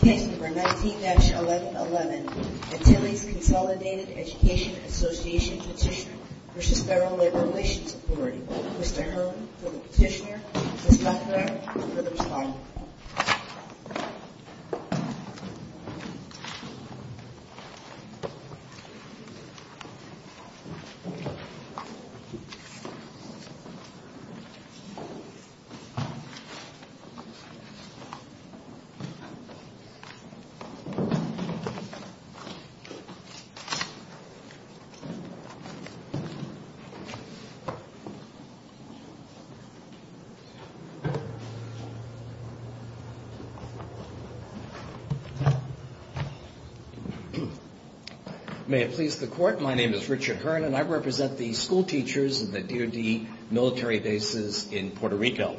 Case No. 19-1111, Antilles Consolidated Education Association Petition v. Federal Labor Relations Authority Mr. Hurley for the petitioner, Ms. Buckner for the respondent May it please the Court, my name is Richard Hearn and I represent the school teachers of the DoD military bases in Puerto Rico.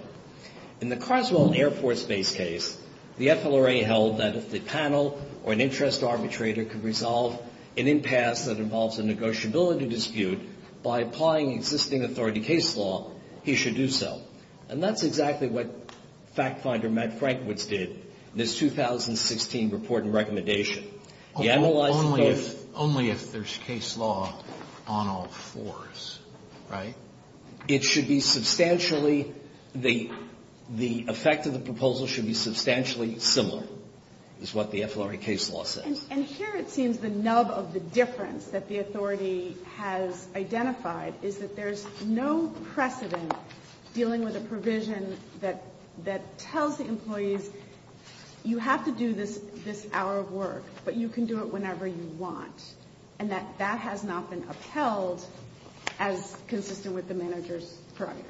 In the Carswell Air Force Base case, the FLRA held that if the panel or an interest arbitrator could resolve an impasse that involves a negotiability dispute by applying existing authority case law, he should do so. And that's exactly what fact finder Matt Frankwitz did in his 2016 report and recommendation. Only if there's case law on all fours, right? It should be substantially, the effect of the proposal should be substantially similar is what the FLRA case law says. And here it seems the nub of the difference that the authority has identified is that there's no precedent dealing with a provision that tells the employees you have to do this hour of work, but you can do it whenever you want. And that has not been upheld as consistent with the manager's prerogative.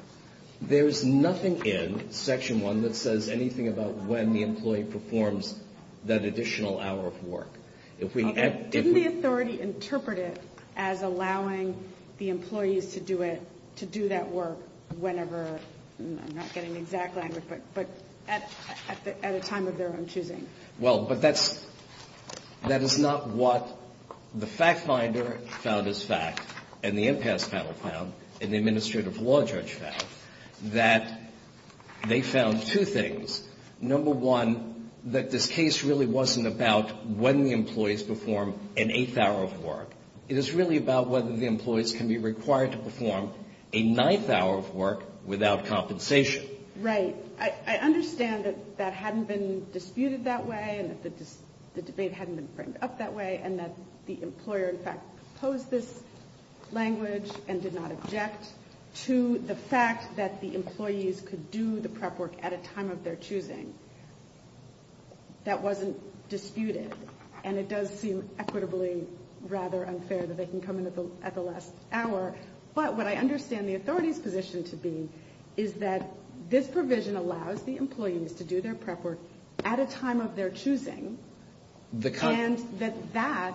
There's nothing in section one that says anything about when the employee performs that additional hour of work. Didn't the authority interpret it as allowing the employees to do it, to do that work whenever, I'm not getting the exact language, but at a time of their own choosing? Well, but that's, that is not what the fact finder found as fact and the impasse panel found and the administrative law judge found. That they found two things. Number one, that this case really wasn't about when the employees perform an eighth hour of work. It is really about whether the employees can be required to perform a ninth hour of work without compensation. Right. I understand that that hadn't been disputed that way and that the debate hadn't been framed up that way and that the employer in fact proposed this language and did not object to the fact that the employees could do the prep work at a time of their choosing. That wasn't disputed. And it does seem equitably rather unfair that they can come in at the last hour. But what I understand the authority's position to be is that this provision allows the employees to do their prep work at a time of their choosing. And that that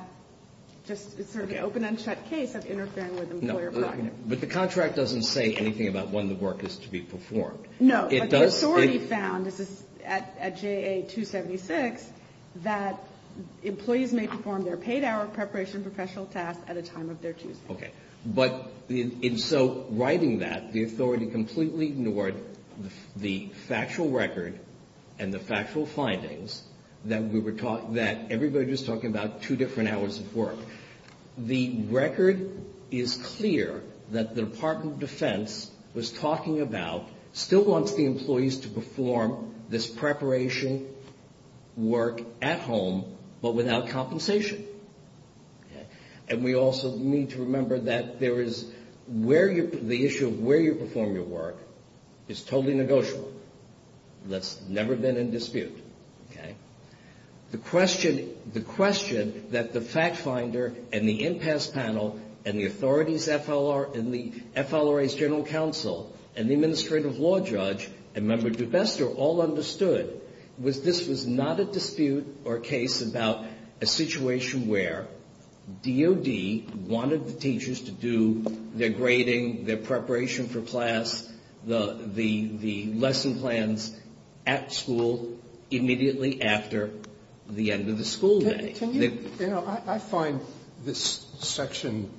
just is sort of an open and shut case of interfering with employer prerogative. But the contract doesn't say anything about when the work is to be performed. No. But the authority found, this is at JA 276, that employees may perform their paid hour of preparation for special tasks at a time of their choosing. Okay. But in so writing that, the authority completely ignored the factual record and the factual findings that everybody was talking about two different hours of work. The record is clear that the Department of Defense was talking about still wants the employees to perform this preparation work at home but without compensation. And we also need to remember that there is where you, the issue of where you perform your work is totally negotiable. That's never been in dispute. Okay. The question, the question that the fact finder and the impasse panel and the authority's FLRA, and the FLRA's general counsel and the administrative law judge and Member DeBester all understood was this was not a dispute or case about a situation where DOD wanted the teachers to do their grading, their preparation for class, the lesson plans at school immediately after the end of the school day. Can you, you know, I find this section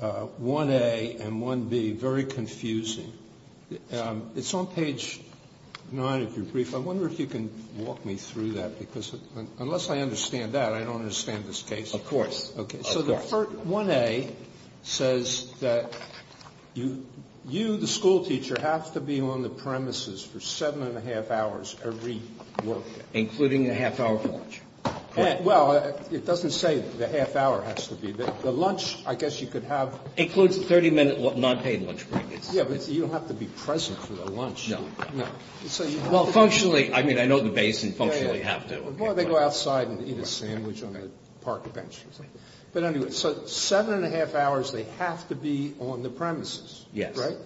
1A and 1B very confusing. It's on page 9 of your brief. I wonder if you can walk me through that because unless I understand that, I don't understand this case. Of course. Okay. So the 1A says that you, the school teacher, have to be on the premises for seven and a half hours every work day. Including the half-hour lunch. Well, it doesn't say the half-hour has to be. The lunch, I guess you could have. Includes the 30-minute non-paid lunch break. Yeah, but you don't have to be present for the lunch. No. Well, functionally, I mean, I know the base and functionally have to. Well, they go outside and eat a sandwich on the park bench or something. But anyway, so seven and a half hours, they have to be on the premises. Yes. Right?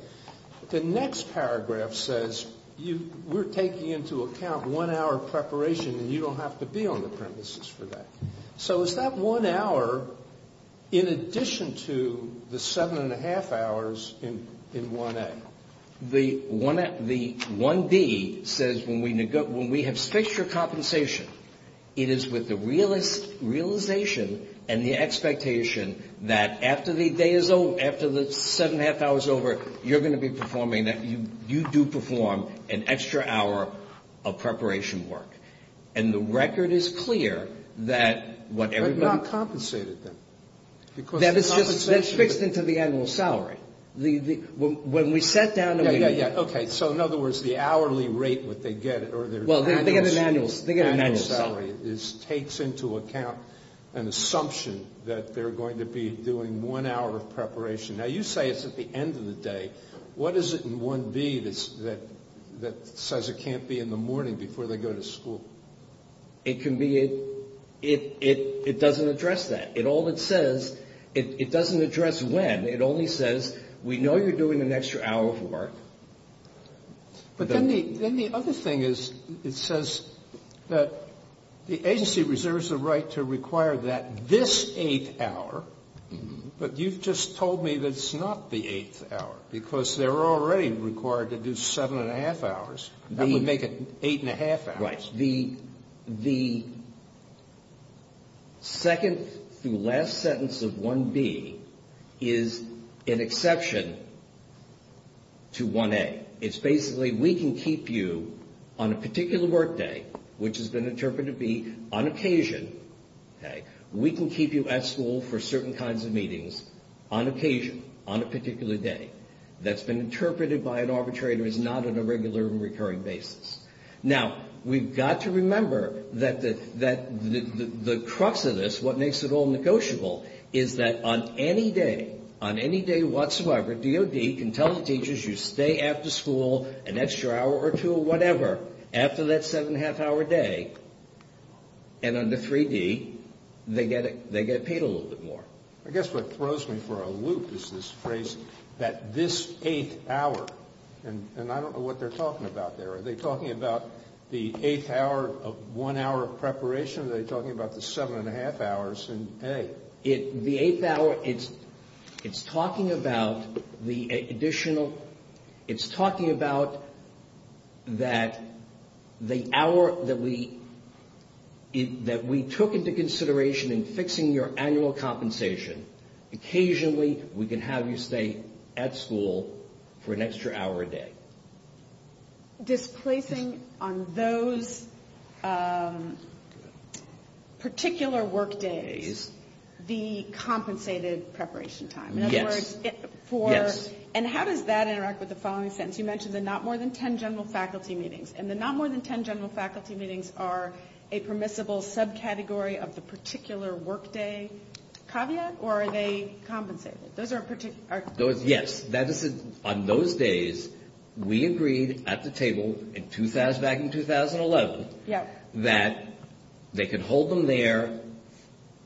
The next paragraph says we're taking into account one hour preparation and you don't have to be on the premises for that. So is that one hour in addition to the seven and a half hours in 1A? The 1B says when we have fixed your compensation, it is with the realization and the expectation that after the day is over, after the seven and a half hours are over, you're going to be performing, that you do perform an extra hour of preparation work. And the record is clear that what everybody. But not compensated then. That is just fixed into the annual salary. When we sat down. Yeah. OK. So in other words, the hourly rate what they get. Well, they get an annual salary. This takes into account an assumption that they're going to be doing one hour of preparation. Now, you say it's at the end of the day. What is it in 1B that says it can't be in the morning before they go to school? It can be it. It doesn't address that. It all it says. It doesn't address when. It only says we know you're doing an extra hour of work. But then the other thing is it says that the agency reserves the right to require that this eighth hour. But you've just told me that it's not the eighth hour because they're already required to do seven and a half hours. That would make it eight and a half hours. Right. The second to last sentence of 1B is an exception to 1A. It's basically we can keep you on a particular work day, which has been interpreted to be on occasion. We can keep you at school for certain kinds of meetings on occasion, on a particular day. That's been interpreted by an arbitrator is not on a regular and recurring basis. Now, we've got to remember that the crux of this, what makes it all negotiable, is that on any day, on any day whatsoever, DOD can tell the teachers you stay after school an extra hour or two or whatever after that seven and a half hour day. And under 3D, they get paid a little bit more. I guess what throws me for a loop is this phrase that this eighth hour. And I don't know what they're talking about there. Are they talking about the eighth hour of one hour of preparation? Are they talking about the seven and a half hours in A? The eighth hour, it's talking about the additional. It's talking about that the hour that we took into consideration in fixing your annual compensation. Occasionally, we can have you stay at school for an extra hour a day. Displacing on those particular work days the compensated preparation time. Yes. And how does that interact with the following sentence? You mentioned the not more than ten general faculty meetings. And the not more than ten general faculty meetings are a permissible subcategory of the particular work day caveat? Or are they compensated? Yes. On those days, we agreed at the table back in 2011 that they could hold them there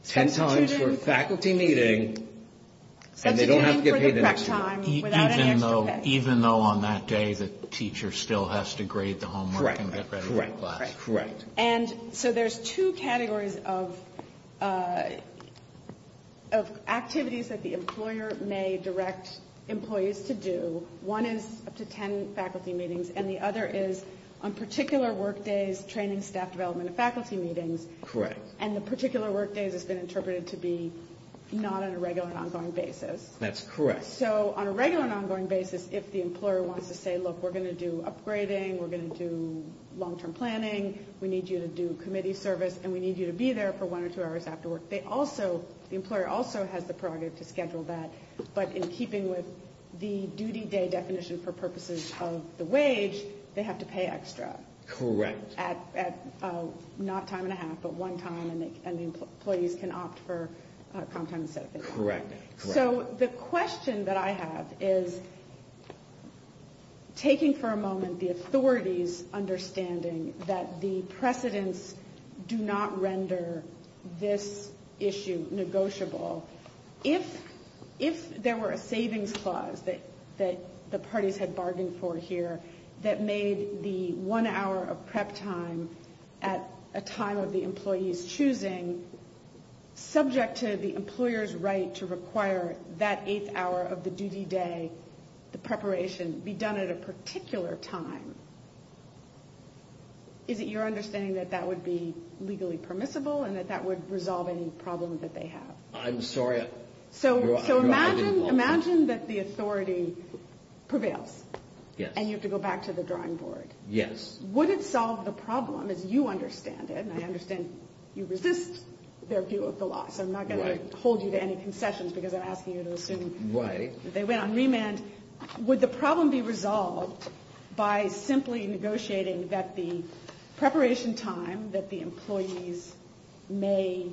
ten times for a faculty meeting. Substituting for the prep time without any extra pay. Even though on that day the teacher still has to grade the homework and get ready for class. Correct. And so there's two categories of activities that the employer may direct employees to do. One is up to ten faculty meetings. And the other is on particular work days, training, staff development, and faculty meetings. Correct. And the particular work days has been interpreted to be not on a regular and ongoing basis. That's correct. So on a regular and ongoing basis, if the employer wants to say, look, we're going to do upgrading. We're going to do long-term planning. We need you to do committee service. And we need you to be there for one or two hours after work. The employer also has the prerogative to schedule that. But in keeping with the duty day definition for purposes of the wage, they have to pay extra. Correct. Not time and a half, but one time. And the employees can opt for comp time instead of pay time. Correct. So the question that I have is, taking for a moment the authority's understanding that the precedents do not render this issue negotiable. If there were a savings clause that the parties had bargained for here that made the one hour of prep time at a time of the employee's choosing, subject to the employer's right to require that eighth hour of the duty day, the preparation, be done at a particular time, is it your understanding that that would be legally permissible and that that would resolve any problem that they have? I'm sorry. So imagine that the authority prevails. Yes. And you have to go back to the drawing board. Yes. Would it solve the problem, as you understand it, and I understand you resist their view of the law, so I'm not going to hold you to any concessions because I'm asking you to assume that they went on remand. And would the problem be resolved by simply negotiating that the preparation time that the employees may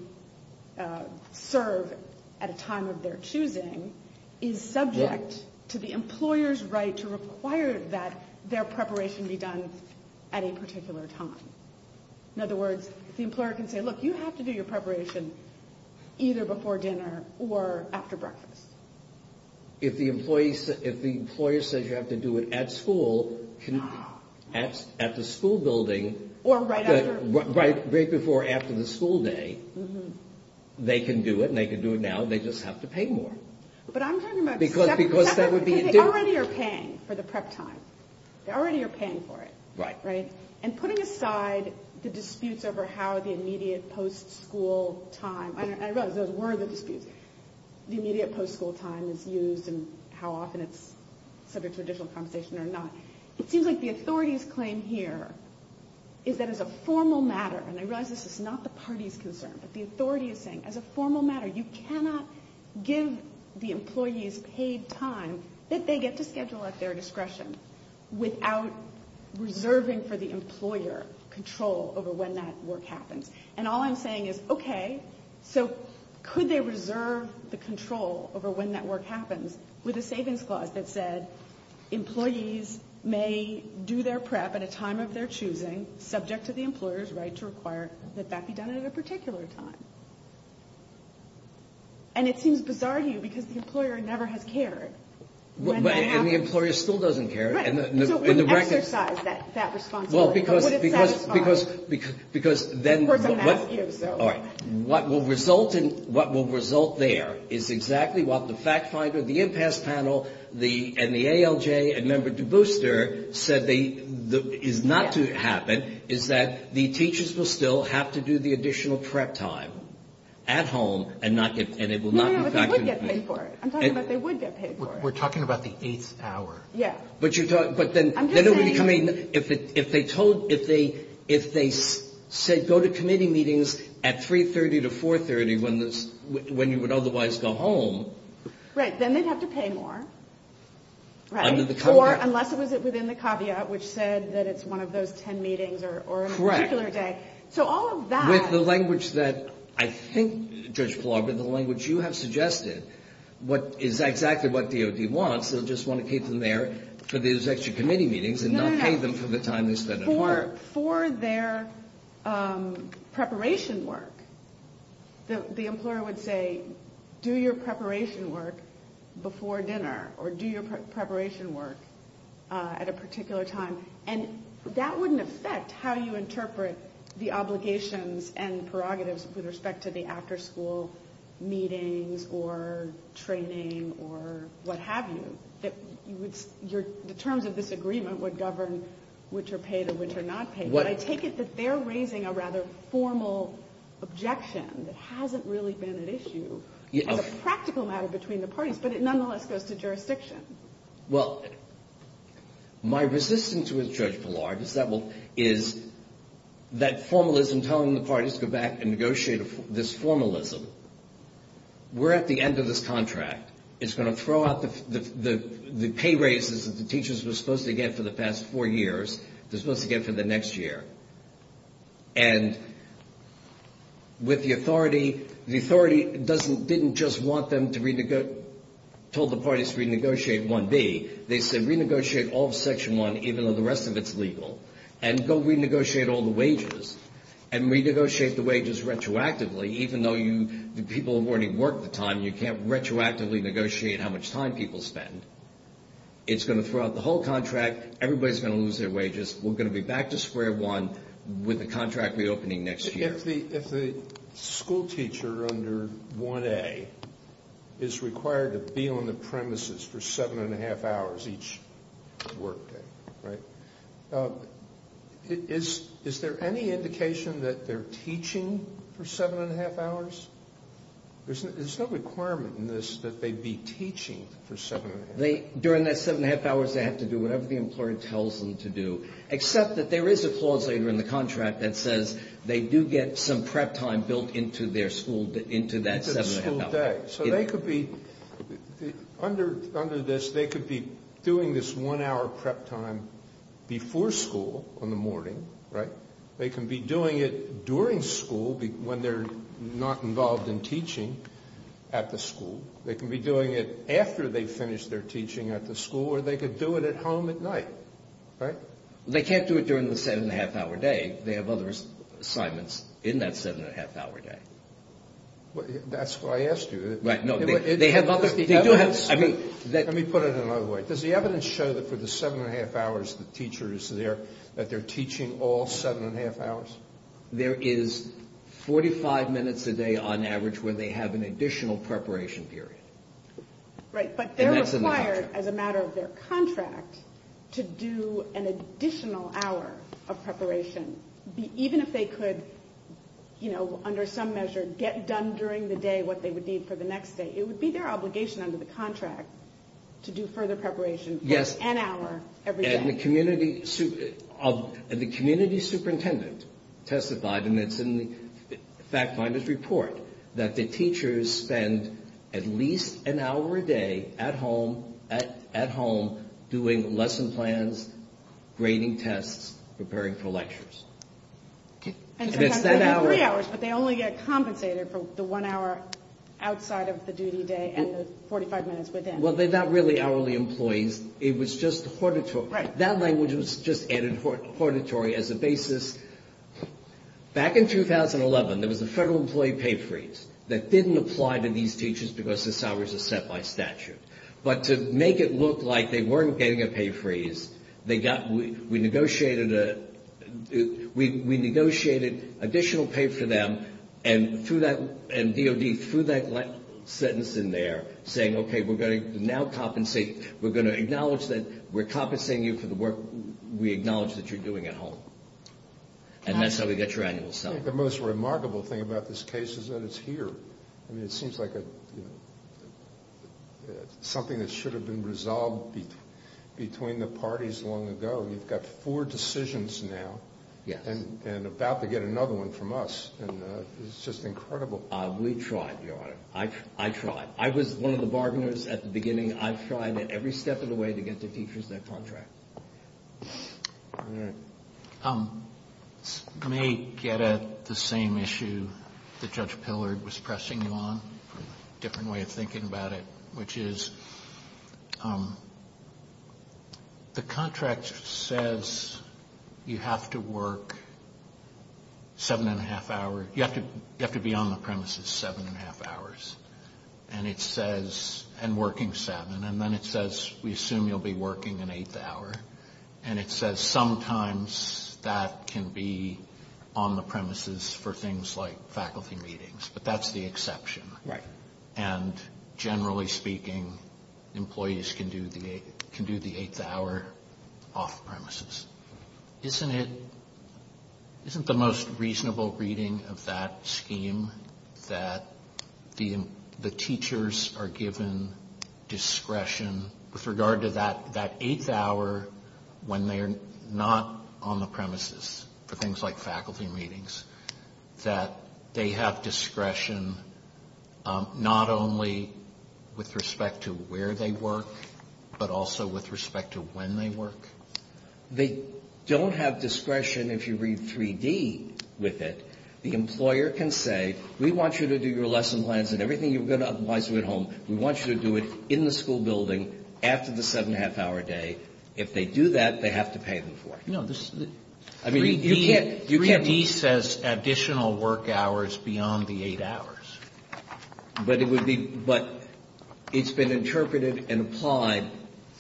serve at a time of their choosing is subject to the employer's right to require that their preparation be done at a particular time? In other words, the employer can say, look, you have to do your preparation either before dinner or after breakfast. If the employer says you have to do it at school, at the school building, right before or after the school day, they can do it and they can do it now, they just have to pay more. Because they already are paying for the prep time. They already are paying for it. Right. And putting aside the disputes over how the immediate post-school time, I realize those were the disputes, the immediate post-school time is used and how often it's subject to additional compensation or not. It seems like the authority's claim here is that as a formal matter, and I realize this is not the party's concern, but the authority is saying as a formal matter you cannot give the employees paid time that they get to schedule at their discretion without reserving for the employer control over when that work happens. And all I'm saying is, okay, so could they reserve the control over when that work happens with a savings clause that said employees may do their prep at a time of their choosing, subject to the employer's right to require that that be done at a particular time. And it seems bizarre to you because the employer never has cared. And the employer still doesn't care. Right. So what exercised that responsibility? Well, because then what will result there is exactly what the fact finder, the impasse panel, and the ALJ, and Member DeBooster said is not to happen, is that the teachers will still have to do the additional prep time at home and it will not be factored in. No, no, no, but they would get paid for it. I'm talking about they would get paid for it. We're talking about the eighth hour. Yeah. I'm just saying. If they said go to committee meetings at 3.30 to 4.30 when you would otherwise go home. Right, then they'd have to pay more, right? Under the caveat. Or unless it was within the caveat, which said that it's one of those ten meetings or a particular day. Correct. So all of that. With the language that I think, Judge Palabra, the language you have suggested is exactly what DOD wants. They'll just want to keep them there for those extra committee meetings and not pay them for the time they spend at home. No, no, no. For their preparation work, the employer would say do your preparation work before dinner or do your preparation work at a particular time. And that wouldn't affect how you interpret the obligations and prerogatives with respect to the after school meetings or training or what have you. The terms of this agreement would govern which are paid and which are not paid. But I take it that they're raising a rather formal objection that hasn't really been at issue as a practical matter between the parties. But it nonetheless goes to jurisdiction. Well, my resistance with Judge Palabra is that formalism telling the parties to go back and negotiate this formalism. We're at the end of this contract. It's going to throw out the pay raises that the teachers were supposed to get for the past four years. They're supposed to get for the next year. And with the authority, the authority didn't just want them to renegotiate, told the parties to renegotiate 1B. They said renegotiate all of Section 1 even though the rest of it's legal. And go renegotiate all the wages. And renegotiate the wages retroactively even though the people have already worked the time. You can't retroactively negotiate how much time people spend. It's going to throw out the whole contract. Everybody's going to lose their wages. We're going to be back to square one with the contract reopening next year. If the school teacher under 1A is required to be on the premises for seven and a half hours each work day, right, is there any indication that they're teaching for seven and a half hours? There's no requirement in this that they be teaching for seven and a half hours. During that seven and a half hours, they have to do whatever the employer tells them to do, except that there is a clause later in the contract that says they do get some prep time built into their school, into that seven and a half hours. So they could be, under this, they could be doing this one hour prep time before school in the morning, right? They can be doing it during school when they're not involved in teaching at the school. They can be doing it after they finish their teaching at the school, or they could do it at home at night, right? They can't do it during the seven and a half hour day. They have other assignments in that seven and a half hour day. That's why I asked you. Right. No, they have others. Let me put it another way. Does the evidence show that for the seven and a half hours the teacher is there, that they're teaching all seven and a half hours? There is 45 minutes a day on average where they have an additional preparation period. Right, but they're required, as a matter of their contract, to do an additional hour of preparation, even if they could, you know, under some measure get done during the day what they would need for the next day. It would be their obligation under the contract to do further preparation for an hour every day. And the community superintendent testified, and it's in the fact finder's report, that the teachers spend at least an hour a day at home doing lesson plans, grading tests, preparing for lectures. And sometimes they have three hours, but they only get compensated for the one hour outside of the duty day and the 45 minutes within. Well, they're not really hourly employees. It was just hortatory. Right. That language was just added, hortatory, as a basis. Back in 2011, there was a federal employee pay freeze that didn't apply to these teachers because their salaries were set by statute. But to make it look like they weren't getting a pay freeze, we negotiated additional pay for them, and DOD threw that sentence in there saying, okay, we're going to now compensate. We're going to acknowledge that we're compensating you for the work we acknowledge that you're doing at home. And that's how we get your annual salary. I think the most remarkable thing about this case is that it's here. I mean, it seems like something that should have been resolved between the parties long ago. You've got four decisions now and about to get another one from us. And it's just incredible. We tried, Your Honor. I tried. I was one of the bargainers at the beginning. I tried at every step of the way to get the teachers that contract. May get at the same issue that Judge Pillard was pressing you on, different way of thinking about it, which is the contract says you have to work seven and a half hours. You have to be on the premises seven and a half hours and working seven. And then it says we assume you'll be working an eighth hour. And it says sometimes that can be on the premises for things like faculty meetings. But that's the exception. Right. And generally speaking, employees can do the eighth hour off premises. Isn't it the most reasonable reading of that scheme that the teachers are given discretion with regard to that eighth hour when they are not on the premises for things like faculty meetings, that they have discretion not only with respect to where they work, but also with respect to when they work? They don't have discretion if you read 3D with it. The employer can say we want you to do your lesson plans and everything you're going to advise them at home. We want you to do it in the school building after the seven and a half hour day. If they do that, they have to pay them for it. 3D says additional work hours beyond the eight hours. But it's been interpreted and applied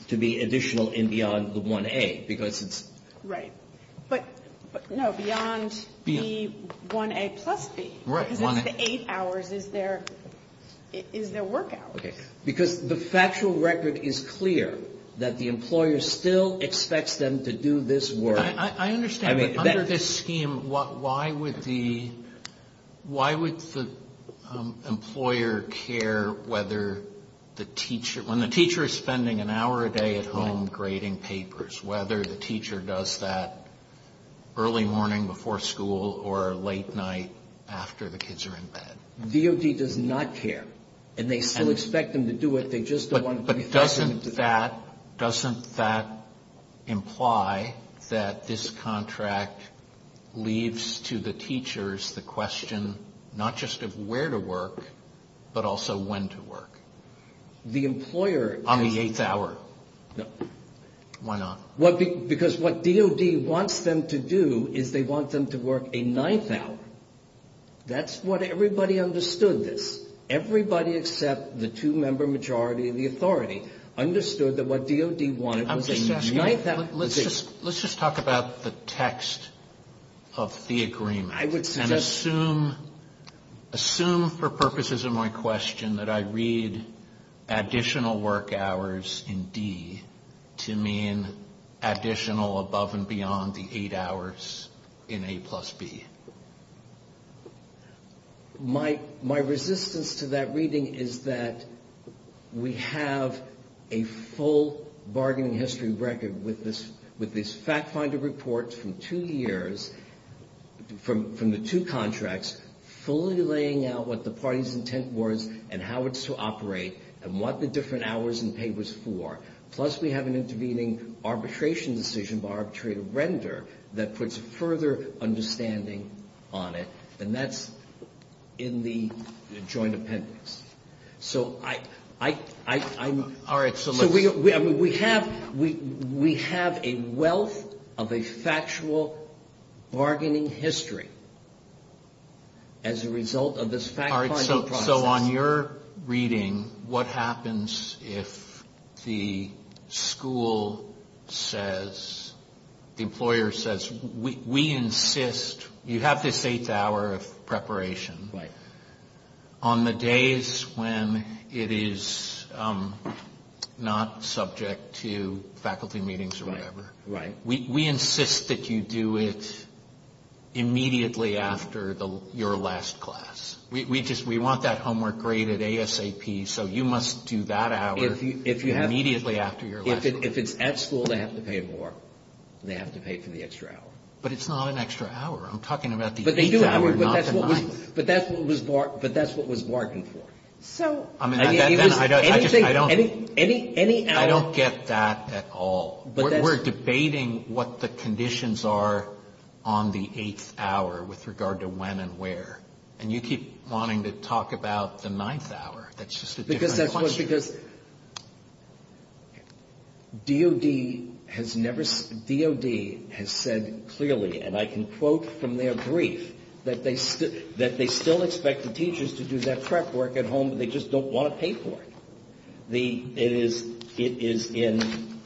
to be additional and beyond the 1A. Right. But no, beyond the 1A plus B. Because it's the eight hours is their work hours. Okay. Because the factual record is clear that the employer still expects them to do this work. I understand, but under this scheme, why would the employer care whether the teacher, when the teacher is spending an hour a day at home grading papers, whether the teacher does that early morning before school or late night after the kids are in bed? DOD does not care. And they still expect them to do it. But doesn't that imply that this contract leaves to the teachers the question not just of where to work, but also when to work? On the eighth hour. No. Why not? Because what DOD wants them to do is they want them to work a ninth hour. That's what everybody understood this. Everybody except the two-member majority of the authority understood that what DOD wanted was a ninth hour. Let's just talk about the text of the agreement. I would suggest. I assume for purposes of my question that I read additional work hours in D to mean additional above and beyond the eight hours in A plus B. My resistance to that reading is that we have a full bargaining history record with this fact finder report from two years from the two contracts fully laying out what the party's intent was and how it's to operate and what the different hours in A was for. Plus, we have an intervening arbitration decision by arbitrary render that puts further understanding on it. And that's in the joint appendix. So I'm. All right. So we have a wealth of a factual bargaining history as a result of this fact finding process. So on your reading, what happens if the school says the employer says we insist you have this eighth hour of preparation. Right. On the days when it is not subject to faculty meetings or whatever. Right. We insist that you do it immediately after your last class. We just we want that homework graded ASAP. So you must do that hour. If you have. Immediately after your. If it's at school, they have to pay more. They have to pay for the extra hour. But it's not an extra hour. I'm talking about the. But they do. But that's what was. But that's what was. But that's what was bargained for. So. I mean. I don't. Any. I don't get that at all. But we're debating what the conditions are on the eighth hour with regard to when and where. And you keep wanting to talk about the ninth hour. That's just. Because that was because. DoD has never. DoD has said clearly and I can quote from their brief that they said that they still expect the teachers to do that prep work at home. They just don't want to pay for it. The it is. It is in.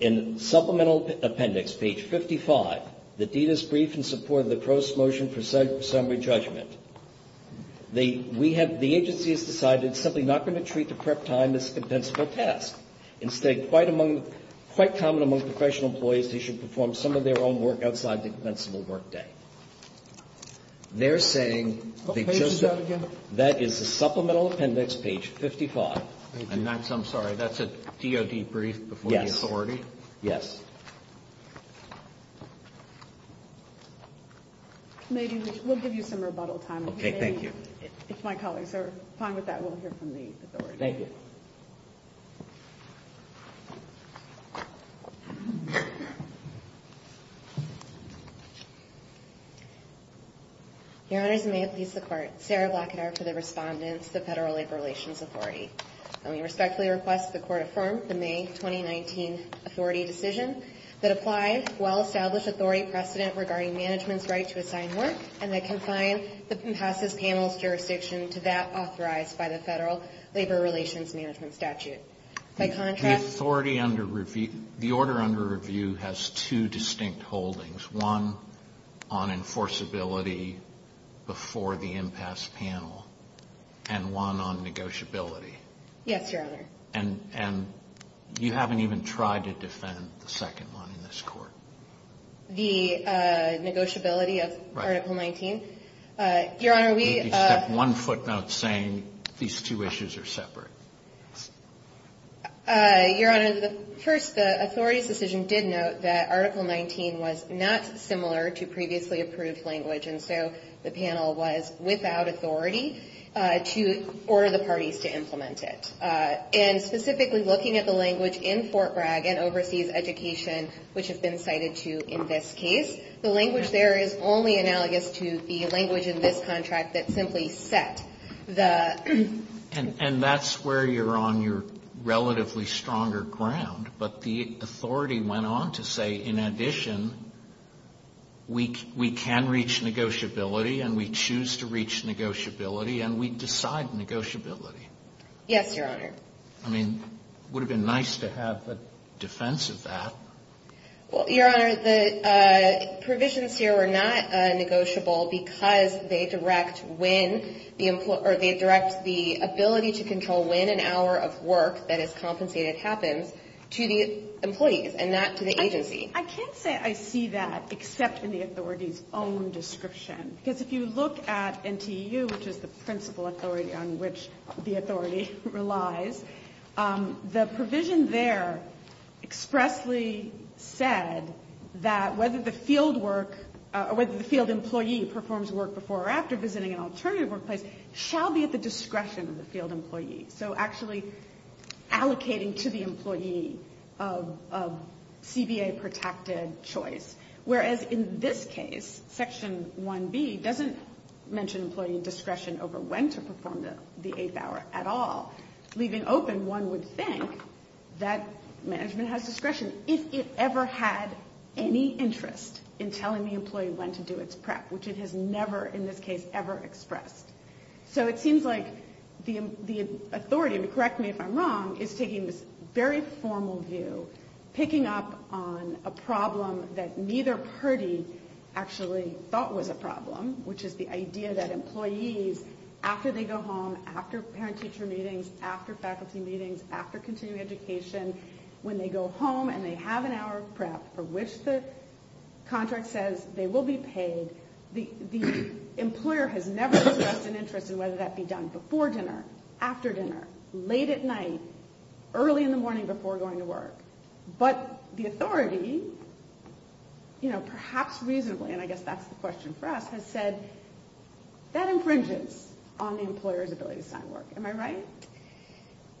In supplemental appendix page 55, the deed is briefed in support of the gross motion for summary judgment. The we have the agency has decided simply not going to treat the prep time as a compensable task. Instead, quite among quite common among professional employees, they should perform some of their own work outside the compensable work day. They're saying. That is a supplemental appendix page 55. And that's I'm sorry. That's a DoD brief. Yes. Authority. Yes. Maybe we'll give you some rebuttal time. Thank you. If my colleagues are fine with that, we'll hear from the. Thank you. Thank you. Your Honor's may please the court. Sarah Blackett are for the respondents. The Federal Labor Relations Authority. And we respectfully request the court affirmed the May 2019 authority decision that applied well established authority precedent regarding management's right to assign work. And I can find the impasses panels jurisdiction to that authorized by the Federal Labor Relations Management statute. My contract authority under review. The order under review has two distinct holdings. One on enforceability before the impasse panel and one on negotiability. Yes, Your Honor. And and you haven't even tried to defend the second one in this court. The negotiability of Article 19. Your Honor, we have one footnote saying these two issues are separate. Your Honor, the first authority's decision did note that Article 19 was not similar to previously approved language. And so the panel was without authority to order the parties to implement it. And specifically looking at the language in Fort Bragg and overseas education, which has been cited to in this case, the language there is only analogous to the language in this contract that simply set the. And that's where you're on your relatively stronger ground. But the authority went on to say, in addition. Week we can reach negotiability and we choose to reach negotiability and we decide negotiability. Yes, Your Honor. I mean, would have been nice to have the defense of that. Well, Your Honor, the provisions here were not negotiable because they direct when the employer they direct the ability to control when an hour of work that is compensated happens to the employees and not to the agency. I can't say I see that except in the authorities own description. Because if you look at NTU, which is the principal authority on which the authority relies, the provision there expressly said that whether the field work or whether the field employee performs work before or after visiting an alternative workplace shall be at the discretion of the field employee. So actually allocating to the employee of CBA protected choice. Whereas in this case, Section 1B doesn't mention employee discretion over when to perform the eighth hour at all. Leaving open one would think that management has discretion if it ever had any interest in telling the employee when to do its prep, which it has never in this case ever expressed. So it seems like the authority, correct me if I'm wrong, is taking this very formal view, picking up on a problem that neither party actually thought was a problem, which is the idea that employees, after they go home, after parent teacher meetings, after faculty meetings, after continuing education, when they go home and they have an hour of prep for which the contract says they will be paid, the employer has never expressed an interest in whether that be done before dinner, after dinner, late at night, early in the morning before going to work. But the authority, perhaps reasonably, and I guess that's the question for us, has said that infringes on the employer's ability to sign work. Am I right?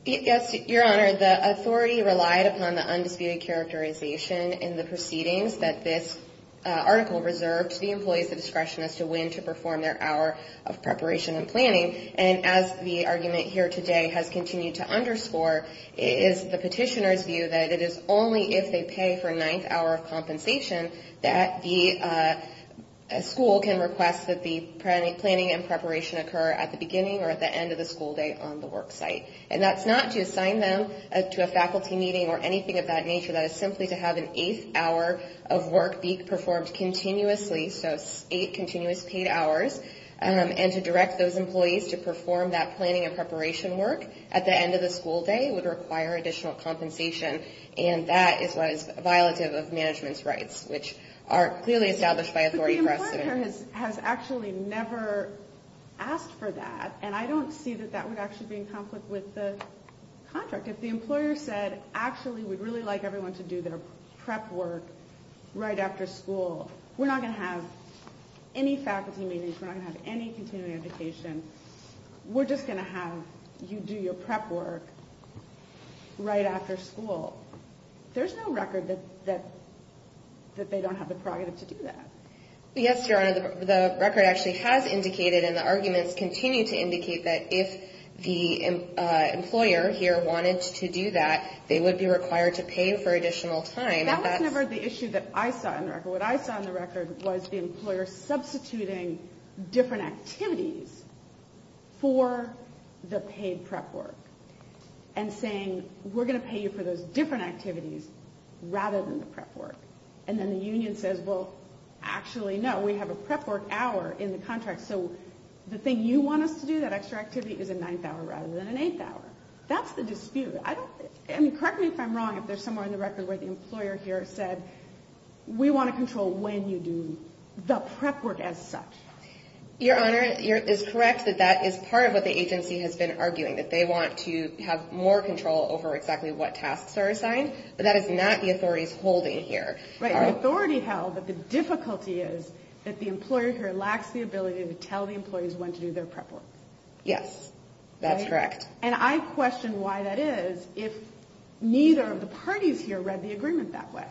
Yes, Your Honor. The authority relied upon the undisputed characterization in the proceedings that this article reserved the employee's discretion as to when to perform their hour of preparation and planning. And as the argument here today has continued to underscore, it is the petitioner's view that it is only if they pay for a ninth hour of compensation that the school can request that the planning and preparation occur at the beginning or at the end of the school day on the work site. And that's not to assign them to a faculty meeting or anything of that nature. That is simply to have an eighth hour of work be performed continuously, so eight continuous paid hours, and to direct those employees to perform that planning and preparation work at the end of the school day would require additional compensation. And that is what is violative of management's rights, which are clearly established by authority for us. The employer has actually never asked for that, and I don't see that that would actually be in conflict with the contract. If the employer said, actually, we'd really like everyone to do their prep work right after school, we're not going to have any faculty meetings, we're not going to have any continuing education, we're just going to have you do your prep work right after school. There's no record that they don't have the prerogative to do that. Yes, Your Honor, the record actually has indicated and the arguments continue to indicate that if the employer here wanted to do that, they would be required to pay for additional time. That was never the issue that I saw in the record. What I saw in the record was the employer substituting different activities for the paid prep work and saying, we're going to pay you for those different activities rather than the prep work. And then the union says, well, actually, no, we have a prep work hour in the contract, so the thing you want us to do, that extra activity, is a ninth hour rather than an eighth hour. That's the dispute. I don't, I mean, correct me if I'm wrong, if there's somewhere in the record where the employer here said, we want to control when you do the prep work as such. Your Honor, it is correct that that is part of what the agency has been arguing, that they want to have more control over exactly what tasks are assigned, but that is not the authorities holding here. Right, the authority held, but the difficulty is that the employer here lacks the ability to tell the employees when to do their prep work. Yes, that's correct. And I question why that is if neither of the parties here read the agreement that way.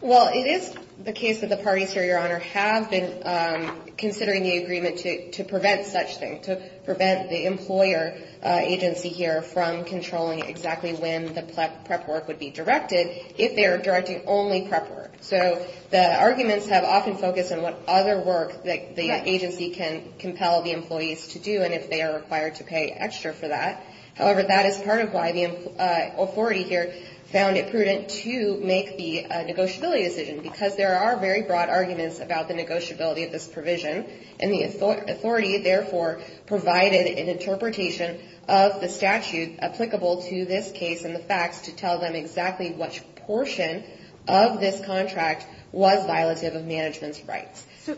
Well, it is the case that the parties here, Your Honor, have been considering the agreement to prevent such thing, to prevent the employer agency here from controlling exactly when the prep work would be directed if they are directing only prep work. So the arguments have often focused on what other work the agency can compel the employees to do and if they are required to pay extra for that. However, that is part of why the authority here found it prudent to make the negotiability decision, because there are very broad arguments about the negotiability of this provision. And the authority, therefore, provided an interpretation of the statute applicable to this case and the facts to tell them exactly which portion of this contract was violative of management's rights. So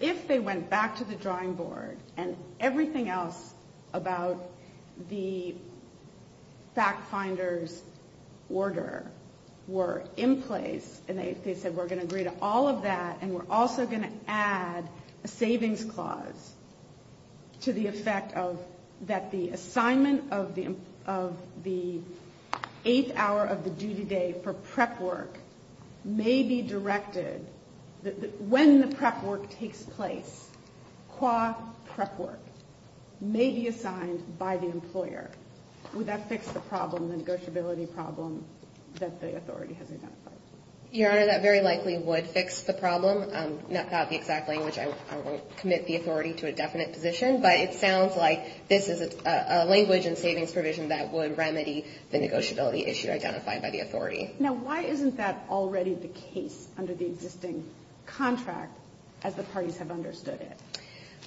if they went back to the drawing board and everything else about the fact finder's order were in place and they said we're going to agree to all of that and we're also going to add a savings clause to the effect of that the assignment of the eighth hour of the duty day for prep work may be directed, when the prep work takes place, qua prep work, may be assigned by the employer. Would that fix the problem, the negotiability problem that the authority has identified? Your Honor, that very likely would fix the problem. Not the exact language. I won't commit the authority to a definite position, but it sounds like this is a language and savings provision that would remedy the negotiability issue identified by the authority. Now, why isn't that already the case under the existing contract as the parties have understood it?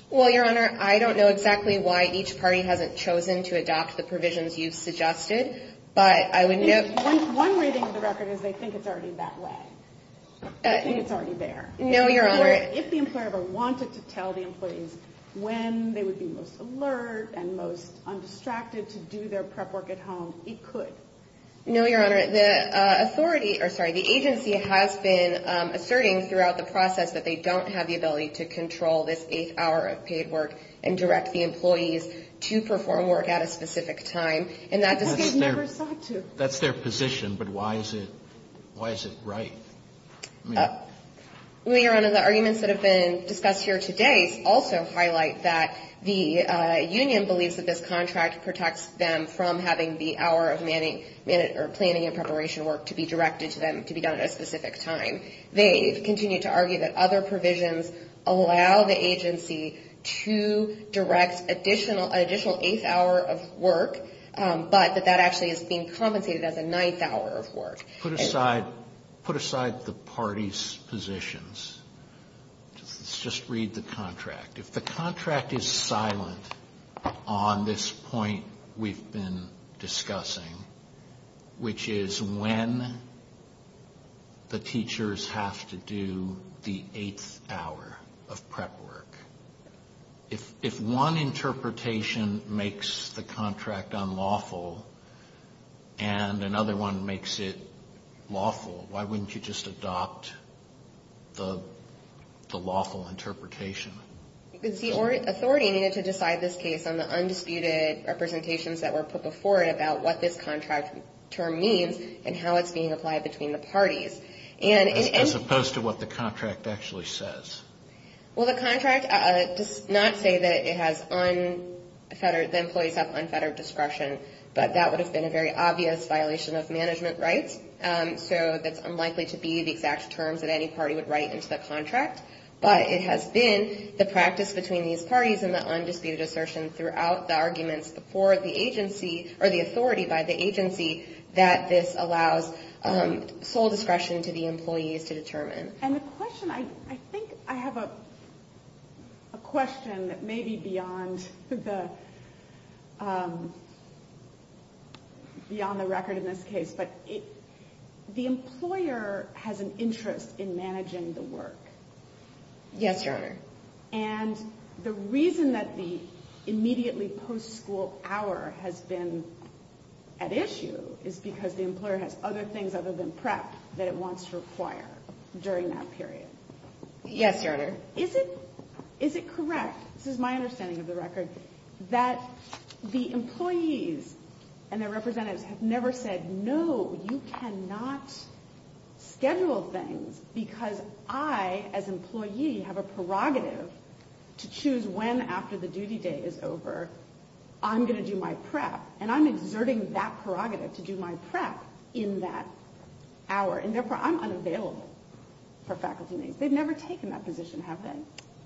Well, Your Honor, I don't know exactly why each party hasn't chosen to adopt the provisions you've suggested, but I would note... One reading of the record is they think it's already that way. They think it's already there. No, Your Honor. If the employer ever wanted to tell the employees when they would be most alert and most undistracted to do their prep work at home, it could. No, Your Honor. The agency has been asserting throughout the process that they don't have the ability to control this eighth hour of paid work and direct the employees to perform work at a specific time. That's their position, but why is it right? Your Honor, the arguments that have been discussed here today also highlight that the union believes that this contract protects them from having the hour of planning and preparation work to be directed to them to be done at a specific time. They continue to argue that other provisions allow the agency to direct an additional eighth hour of work, but that that actually is being compensated as a ninth hour of work. Put aside the parties' positions. Let's just read the contract. If the contract is silent on this point we've been discussing, which is when the teachers have to do the eighth hour of prep work, if one interpretation makes the contract unlawful and another one makes it lawful, why wouldn't you just adopt the lawful interpretation? The authority needed to decide this case on the undisputed representations that were put before it about what this contract term means and how it's being applied between the parties. As opposed to what the contract actually says. Well, the contract does not say that the employees have unfettered discretion, but that would have been a very obvious violation of management rights. So that's unlikely to be the exact terms that any party would write into the contract. But it has been the practice between these parties and the undisputed assertion throughout the arguments before the authority by the agency that this allows sole discretion to the employees to determine. And the question, I think I have a question that may be beyond the record in this case, but the employer has an interest in managing the work. Yes, Your Honor. And the reason that the immediately post-school hour has been at issue is because the employer has other things other than prep that it wants to require during that period. Yes, Your Honor. Is it correct, this is my understanding of the record, that the employees and their representatives have never said, no, you cannot schedule things because I, as employee, have a prerogative to choose when after the duty day is over I'm going to do my prep. And I'm exerting that prerogative to do my prep in that hour. And therefore I'm unavailable for faculty meetings. They've never taken that position, have they?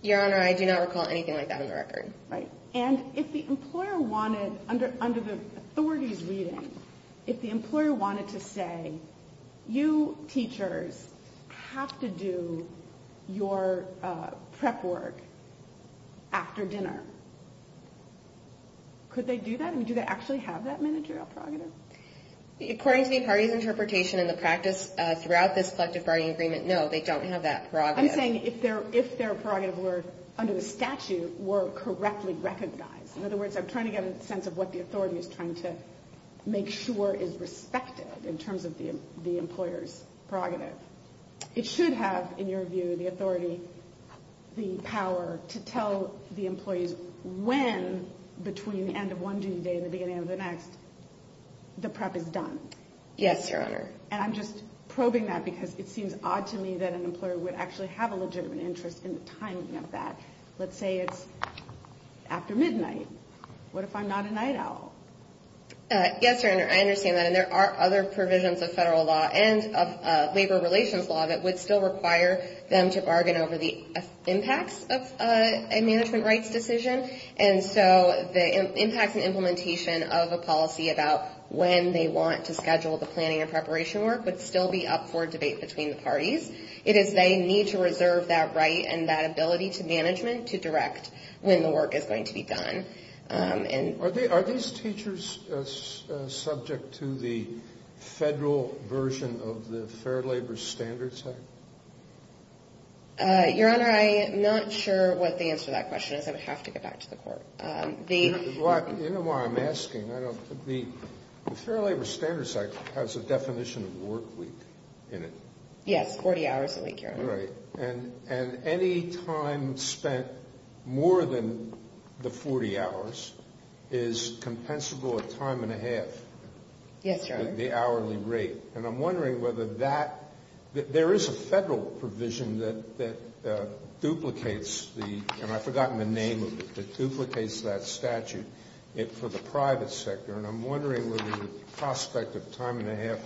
Your Honor, I do not recall anything like that on the record. Right. And if the employer wanted, under the authority's reading, if the employer wanted to say, you teachers have to do your prep work after dinner, could they do that? Do they actually have that managerial prerogative? According to the party's interpretation and the practice throughout this collective bargaining agreement, no, they don't have that prerogative. I'm saying if their prerogative were, under the statute, were correctly recognized. In other words, I'm trying to get a sense of what the authority is trying to make sure is respected in terms of the employer's prerogative. It should have, in your view, the authority, the power to tell the employees when, between the end of one duty day and the beginning of the next, the prep is done. Yes, Your Honor. And I'm just probing that because it seems odd to me that an employer would actually have a legitimate interest in the timing of that. Let's say it's after midnight. What if I'm not a night owl? Yes, Your Honor, I understand that. And there are other provisions of federal law and of labor relations law that would still require them to bargain over the impacts of a management rights decision. And so the impacts and implementation of a policy about when they want to schedule the planning and preparation work would still be up for debate between the parties. It is they need to reserve that right and that ability to management to direct when the work is going to be done. Are these teachers subject to the federal version of the Fair Labor Standards Act? Your Honor, I'm not sure what the answer to that question is. I would have to get back to the court. You know why I'm asking. The Fair Labor Standards Act has a definition of work week in it. Yes, 40 hours a week, Your Honor. And any time spent more than the 40 hours is compensable a time and a half. Yes, Your Honor. The hourly rate. And I'm wondering whether that – there is a federal provision that duplicates the – and I've forgotten the name of it – that duplicates that statute for the private sector. And I'm wondering whether the prospect of time and a half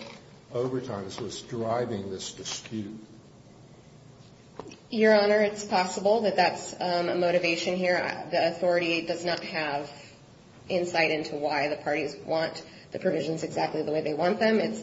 overtime is what's driving this dispute. Your Honor, it's possible that that's a motivation here. The authority does not have insight into why the parties want the provisions exactly the way they want them. It's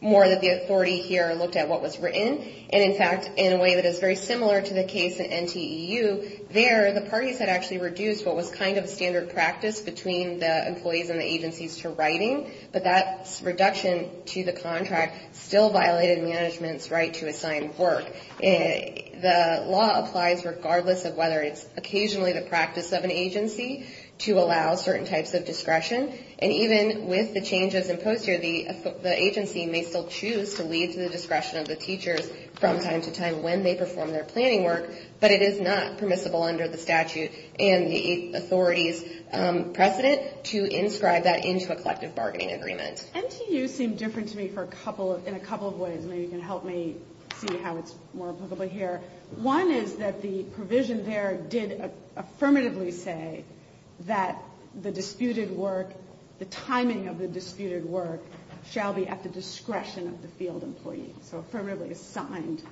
more that the authority here looked at what was written. And, in fact, in a way that is very similar to the case in NTEU, there the parties had actually reduced what was kind of standard practice between the employees and the agencies to writing. But that reduction to the contract still violated management's right to assign work. The law applies regardless of whether it's occasionally the practice of an agency to allow certain types of discretion. And even with the changes imposed here, the agency may still choose to lead to the discretion of the teachers from time to time when they perform their planning work. But it is not permissible under the statute and the authority's precedent to inscribe that into a collective bargaining agreement. NTEU seemed different to me for a couple – in a couple of ways. Maybe you can help me see how it's more applicable here. One is that the provision there did affirmatively say that the disputed work, the timing of the disputed work, shall be at the discretion of the field employee. So affirmatively assigned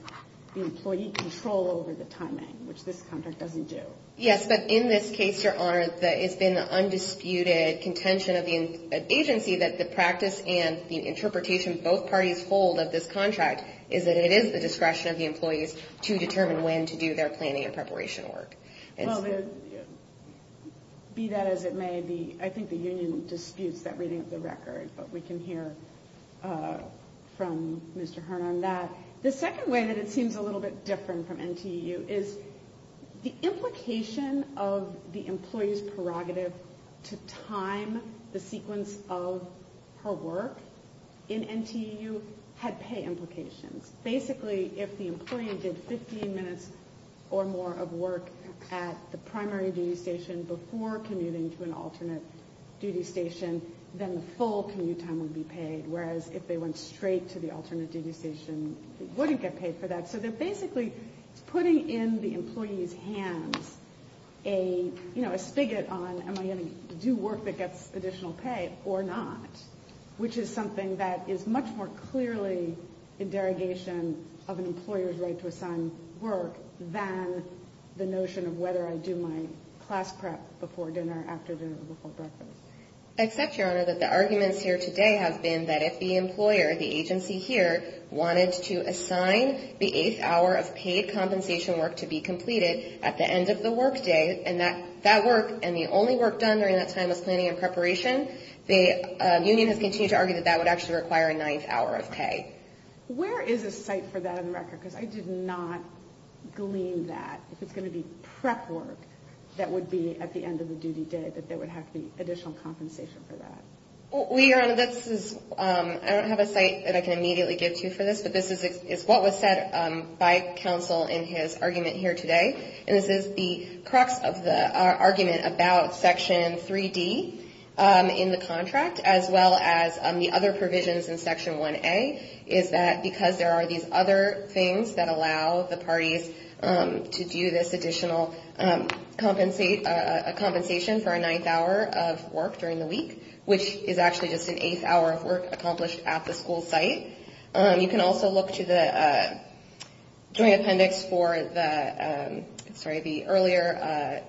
the employee control over the timing, which this contract doesn't do. Yes, but in this case, Your Honor, it's been the undisputed contention of the agency that the practice and the interpretation both parties hold of this contract is that it is the discretion of the employees to determine when to do their planning and preparation work. Well, be that as it may, I think the union disputes that reading of the record, but we can hear from Mr. Hearn on that. The second way that it seems a little bit different from NTEU is the implication of the employee's prerogative to time the sequence of her work in NTEU had pay implications. Basically, if the employee did 15 minutes or more of work at the primary duty station before commuting to an alternate duty station, then the full commute time would be paid. Whereas if they went straight to the alternate duty station, they wouldn't get paid for that. So they're basically putting in the employee's hands a spigot on am I going to do work that gets additional pay or not, which is something that is much more clearly a derogation of an employer's right to assign work than the notion of whether I do my class prep before dinner, after dinner, or before breakfast. Except, Your Honor, that the arguments here today have been that if the employer, the agency here, wanted to assign the eighth hour of paid compensation work to be completed at the end of the work day, and that work, and the only work done during that time was planning and preparation, the union has continued to argue that that would actually require a ninth hour of pay. Where is a site for that on the record? Because I did not glean that. If it's going to be prep work that would be at the end of the duty day, that there would have to be additional compensation for that. Well, Your Honor, I don't have a site that I can immediately give to you for this, but this is what was said by counsel in his argument here today. And this is the crux of the argument about Section 3D in the contract, as well as the other provisions in Section 1A, is that because there are these other things that allow the parties to do this additional compensation for a ninth hour of work during the week, which is actually just an eighth hour of work accomplished at the school site. You can also look to the Joint Appendix for the earlier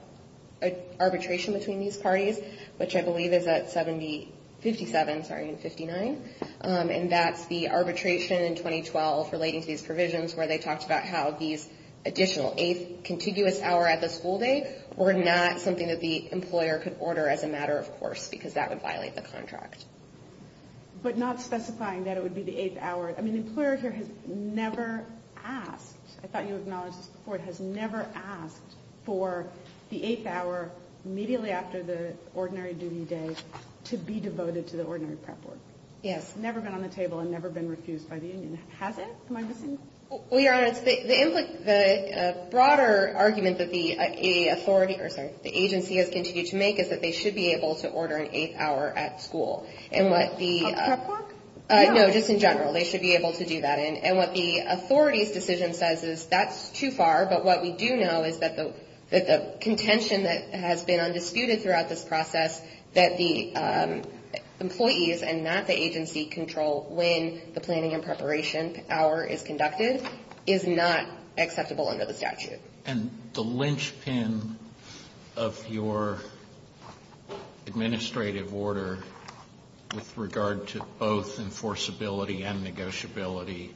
arbitration between these parties, which I believe is at 57, sorry, 59, and that's the arbitration in 2012 relating to these provisions where they talked about how these additional eighth contiguous hour at the school day were not something that the employer could order as a matter of course, because that would violate the contract. But not specifying that it would be the eighth hour. I mean, the employer here has never asked, I thought you acknowledged this before, has never asked for the eighth hour immediately after the ordinary duty day to be devoted to the ordinary prep work. Yes. Never been on the table and never been refused by the union. Has it? Am I missing? Well, Your Honor, the broader argument that the authority, or sorry, the agency has continued to make is that they should be able to order an eighth hour at school. At prep work? No, just in general. They should be able to do that. And what the authority's decision says is that's too far, but what we do know is that the contention that has been undisputed throughout this process that the employees and not the agency control when the planning and preparation hour is conducted. Is not acceptable under the statute. And the linchpin of your administrative order with regard to both enforceability and negotiability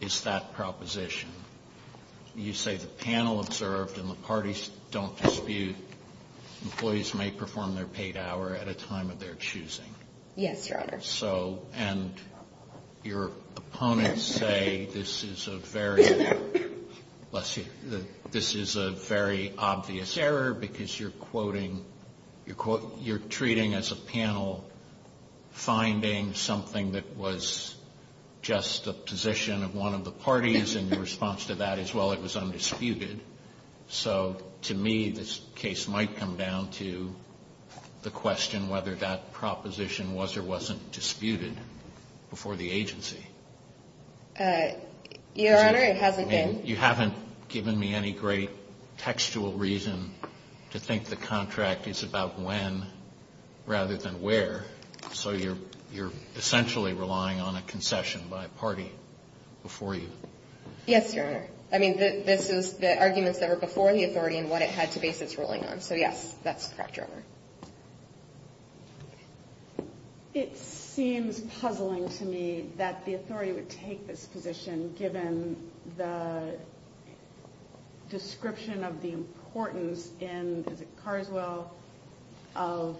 is that proposition. You say the panel observed and the parties don't dispute employees may perform their paid hour at a time of their choosing. Yes, Your Honor. So, and your opponents say this is a very, let's see, this is a very obvious error because you're quoting, you're treating as a panel finding something that was just a position of one of the parties and the response to that is, well, it was undisputed. So to me, this case might come down to the question whether that proposition was or wasn't disputed before the agency. Your Honor, it hasn't been. You haven't given me any great textual reason to think the contract is about when rather than where. So you're essentially relying on a concession by a party before you. Yes, Your Honor. I mean, this is the arguments that were before the authority and what it had to base its ruling on. So, yes, that's correct, Your Honor. It seems puzzling to me that the authority would take this position given the description of the importance in, is it Carswell, of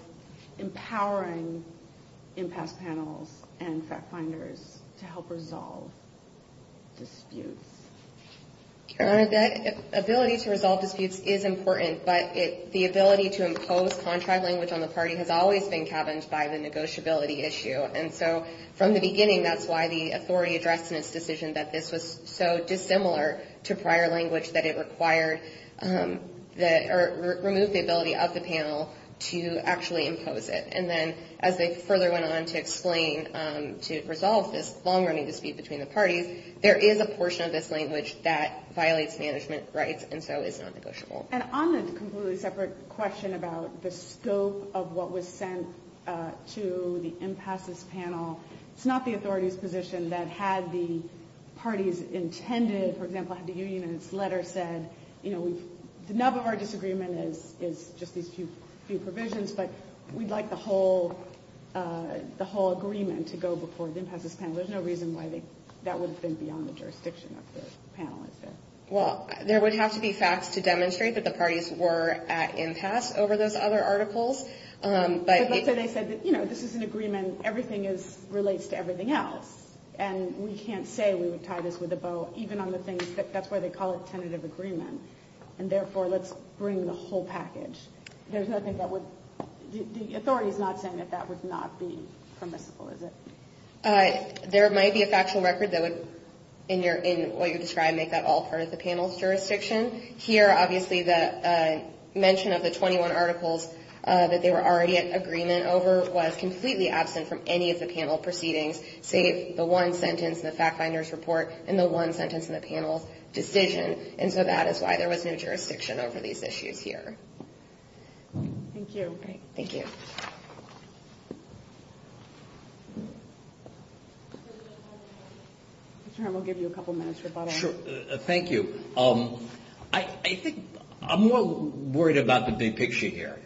empowering impasse panels and fact finders to help resolve disputes. Your Honor, the ability to resolve disputes is important, but the ability to impose contract language on the party has always been cabined by the negotiability issue. And so from the beginning, that's why the authority addressed in its decision that this was so dissimilar to prior language that it required that or removed the ability of the panel to actually impose it. And then as they further went on to explain to resolve this long-running dispute between the parties, there is a portion of this language that violates management rights and so is non-negotiable. And on a completely separate question about the scope of what was sent to the impasse panel, it's not the authority's position that had the parties intended, for example, had the union in its letter said, you know, we've, none of our disagreement is just these few provisions, but we'd like the whole agreement to go before the impasse panel. There's no reason why that would have been beyond the jurisdiction of the panel, is there? Well, there would have to be facts to demonstrate that the parties were at impasse over those other articles. But let's say they said that, you know, this is an agreement, everything is, relates to everything else. And we can't say we would tie this with a bow, even on the things that, that's why they call it tentative agreement. And therefore, let's bring the whole package. There's nothing that would, the authority is not saying that that would not be permissible, is it? There might be a factual record that would, in your, in what you describe, make that all part of the panel's jurisdiction. Here, obviously, the mention of the 21 articles that they were already in agreement over was completely absent from any of the panel proceedings, save the one sentence in the fact finder's report and the one sentence in the panel's decision. And so that is why there was no jurisdiction over these issues here. Thank you. Thank you. Mr. Herm, we'll give you a couple minutes for follow-up. Sure, thank you. I think I'm more worried about the big picture here.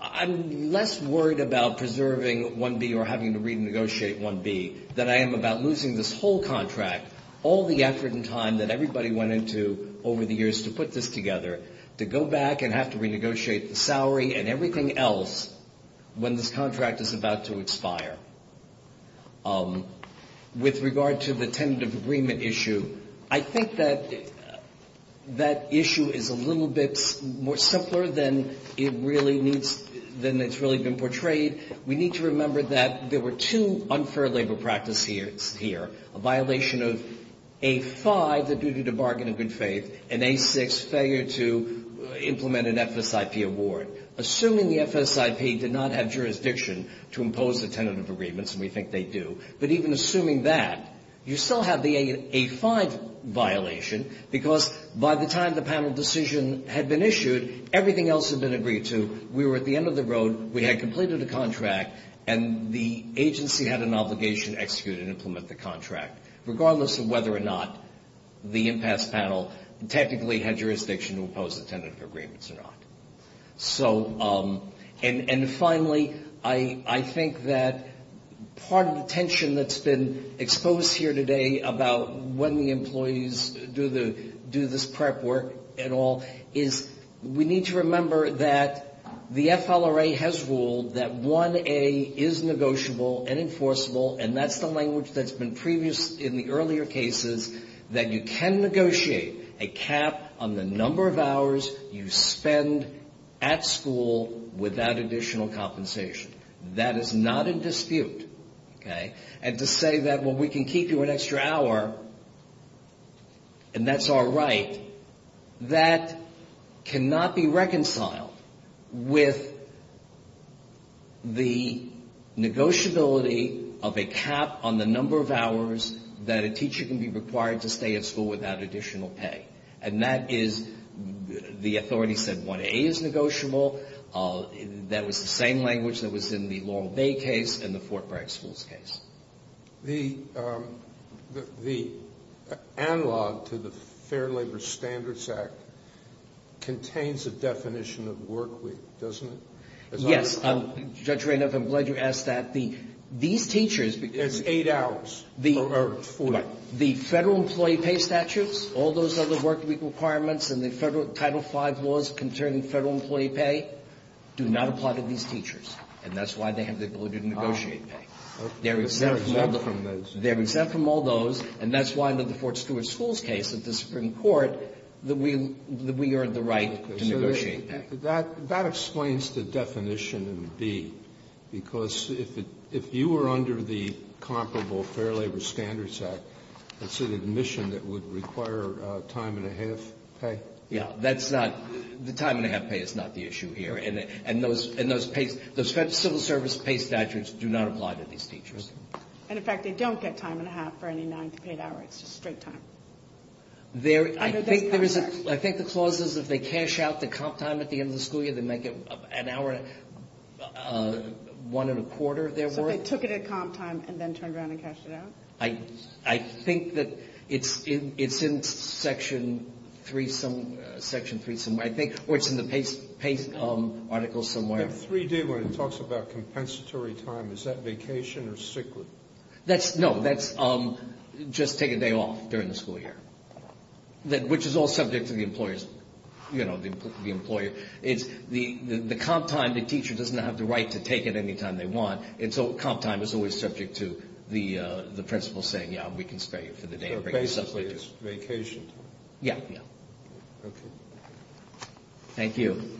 I'm less worried about preserving 1B or having to renegotiate 1B than I am about losing this whole contract, all the effort and time that everybody went into over the years to put this together, to go back and have to renegotiate the salary and everything else when this contract is about to expire. With regard to the tentative agreement issue, I think that that issue is a little bit more simpler than it really needs, than it's really been portrayed. We need to remember that there were two unfair labor practices here, a violation of A5, the duty to bargain in good faith, and A6, failure to implement an FSIP award. Assuming the FSIP did not have jurisdiction to impose the tentative agreements, and we think they do, but even assuming that, you still have the A5 violation, because by the time the panel decision had been issued, everything else had been agreed to, we were at the end of the road, we had completed a contract, and the agency had an obligation to execute and implement the contract. Regardless of whether or not the impasse panel technically had jurisdiction to impose the tentative agreements or not. So, and finally, I think that part of the tension that's been exposed here today about when the employees do this prep work and all, is we need to remember that the FLRA has ruled that 1A is negotiable and enforceable, and that's the language that's been previous in the earlier cases, that you can negotiate a cap on the number of hours you spend negotiating a contract. You can negotiate a cap on the number of hours you spend at school without additional compensation. That is not in dispute, okay? And to say that, well, we can keep you an extra hour, and that's all right, that cannot be reconciled with the negotiability of a cap on the number of hours that a teacher can be required to stay at school without additional pay. And that is, the authority said 1A is negotiable. That was the same language that was in the Laurel Bay case and the Fort Bragg schools case. The analog to the Fair Labor Standards Act contains a definition of work week, doesn't it? Yes. Judge Rehnhoff, I'm glad you asked that. These teachers... It's eight hours, or 40. The Federal Employee Pay Statutes, all those other work week requirements, and the Federal Title V laws concerning Federal Employee Pay do not apply to these teachers, and that's why they have the ability to negotiate pay. They're exempt from all those, and that's why under the Fort Stewart schools case at the Supreme Court, that we are the right to negotiate pay. That explains the definition in B, because if you were under the comparable Fair Labor Standards Act, you would have the right to negotiate pay. Let's say the admission that would require time and a half pay. Yeah, that's not, the time and a half pay is not the issue here. And those civil service pay statutes do not apply to these teachers. And in fact, they don't get time and a half for any nine to eight hours. It's just straight time. I think the clause is if they cash out the comp time at the end of the school year, they make it an hour, one and a quarter their worth. So if they took it at comp time and then turned around and cashed it out? I think that it's in Section 3 somewhere, I think, or it's in the pay articles somewhere. In 3D when it talks about compensatory time, is that vacation or sick leave? No, that's just take a day off during the school year, which is all subject to the employers, you know, the employer. The comp time, the teacher doesn't have the right to take it any time they want. And so comp time is always subject to the principal saying, yeah, we can spare you for the day. So basically it's vacation. Yeah. Thank you.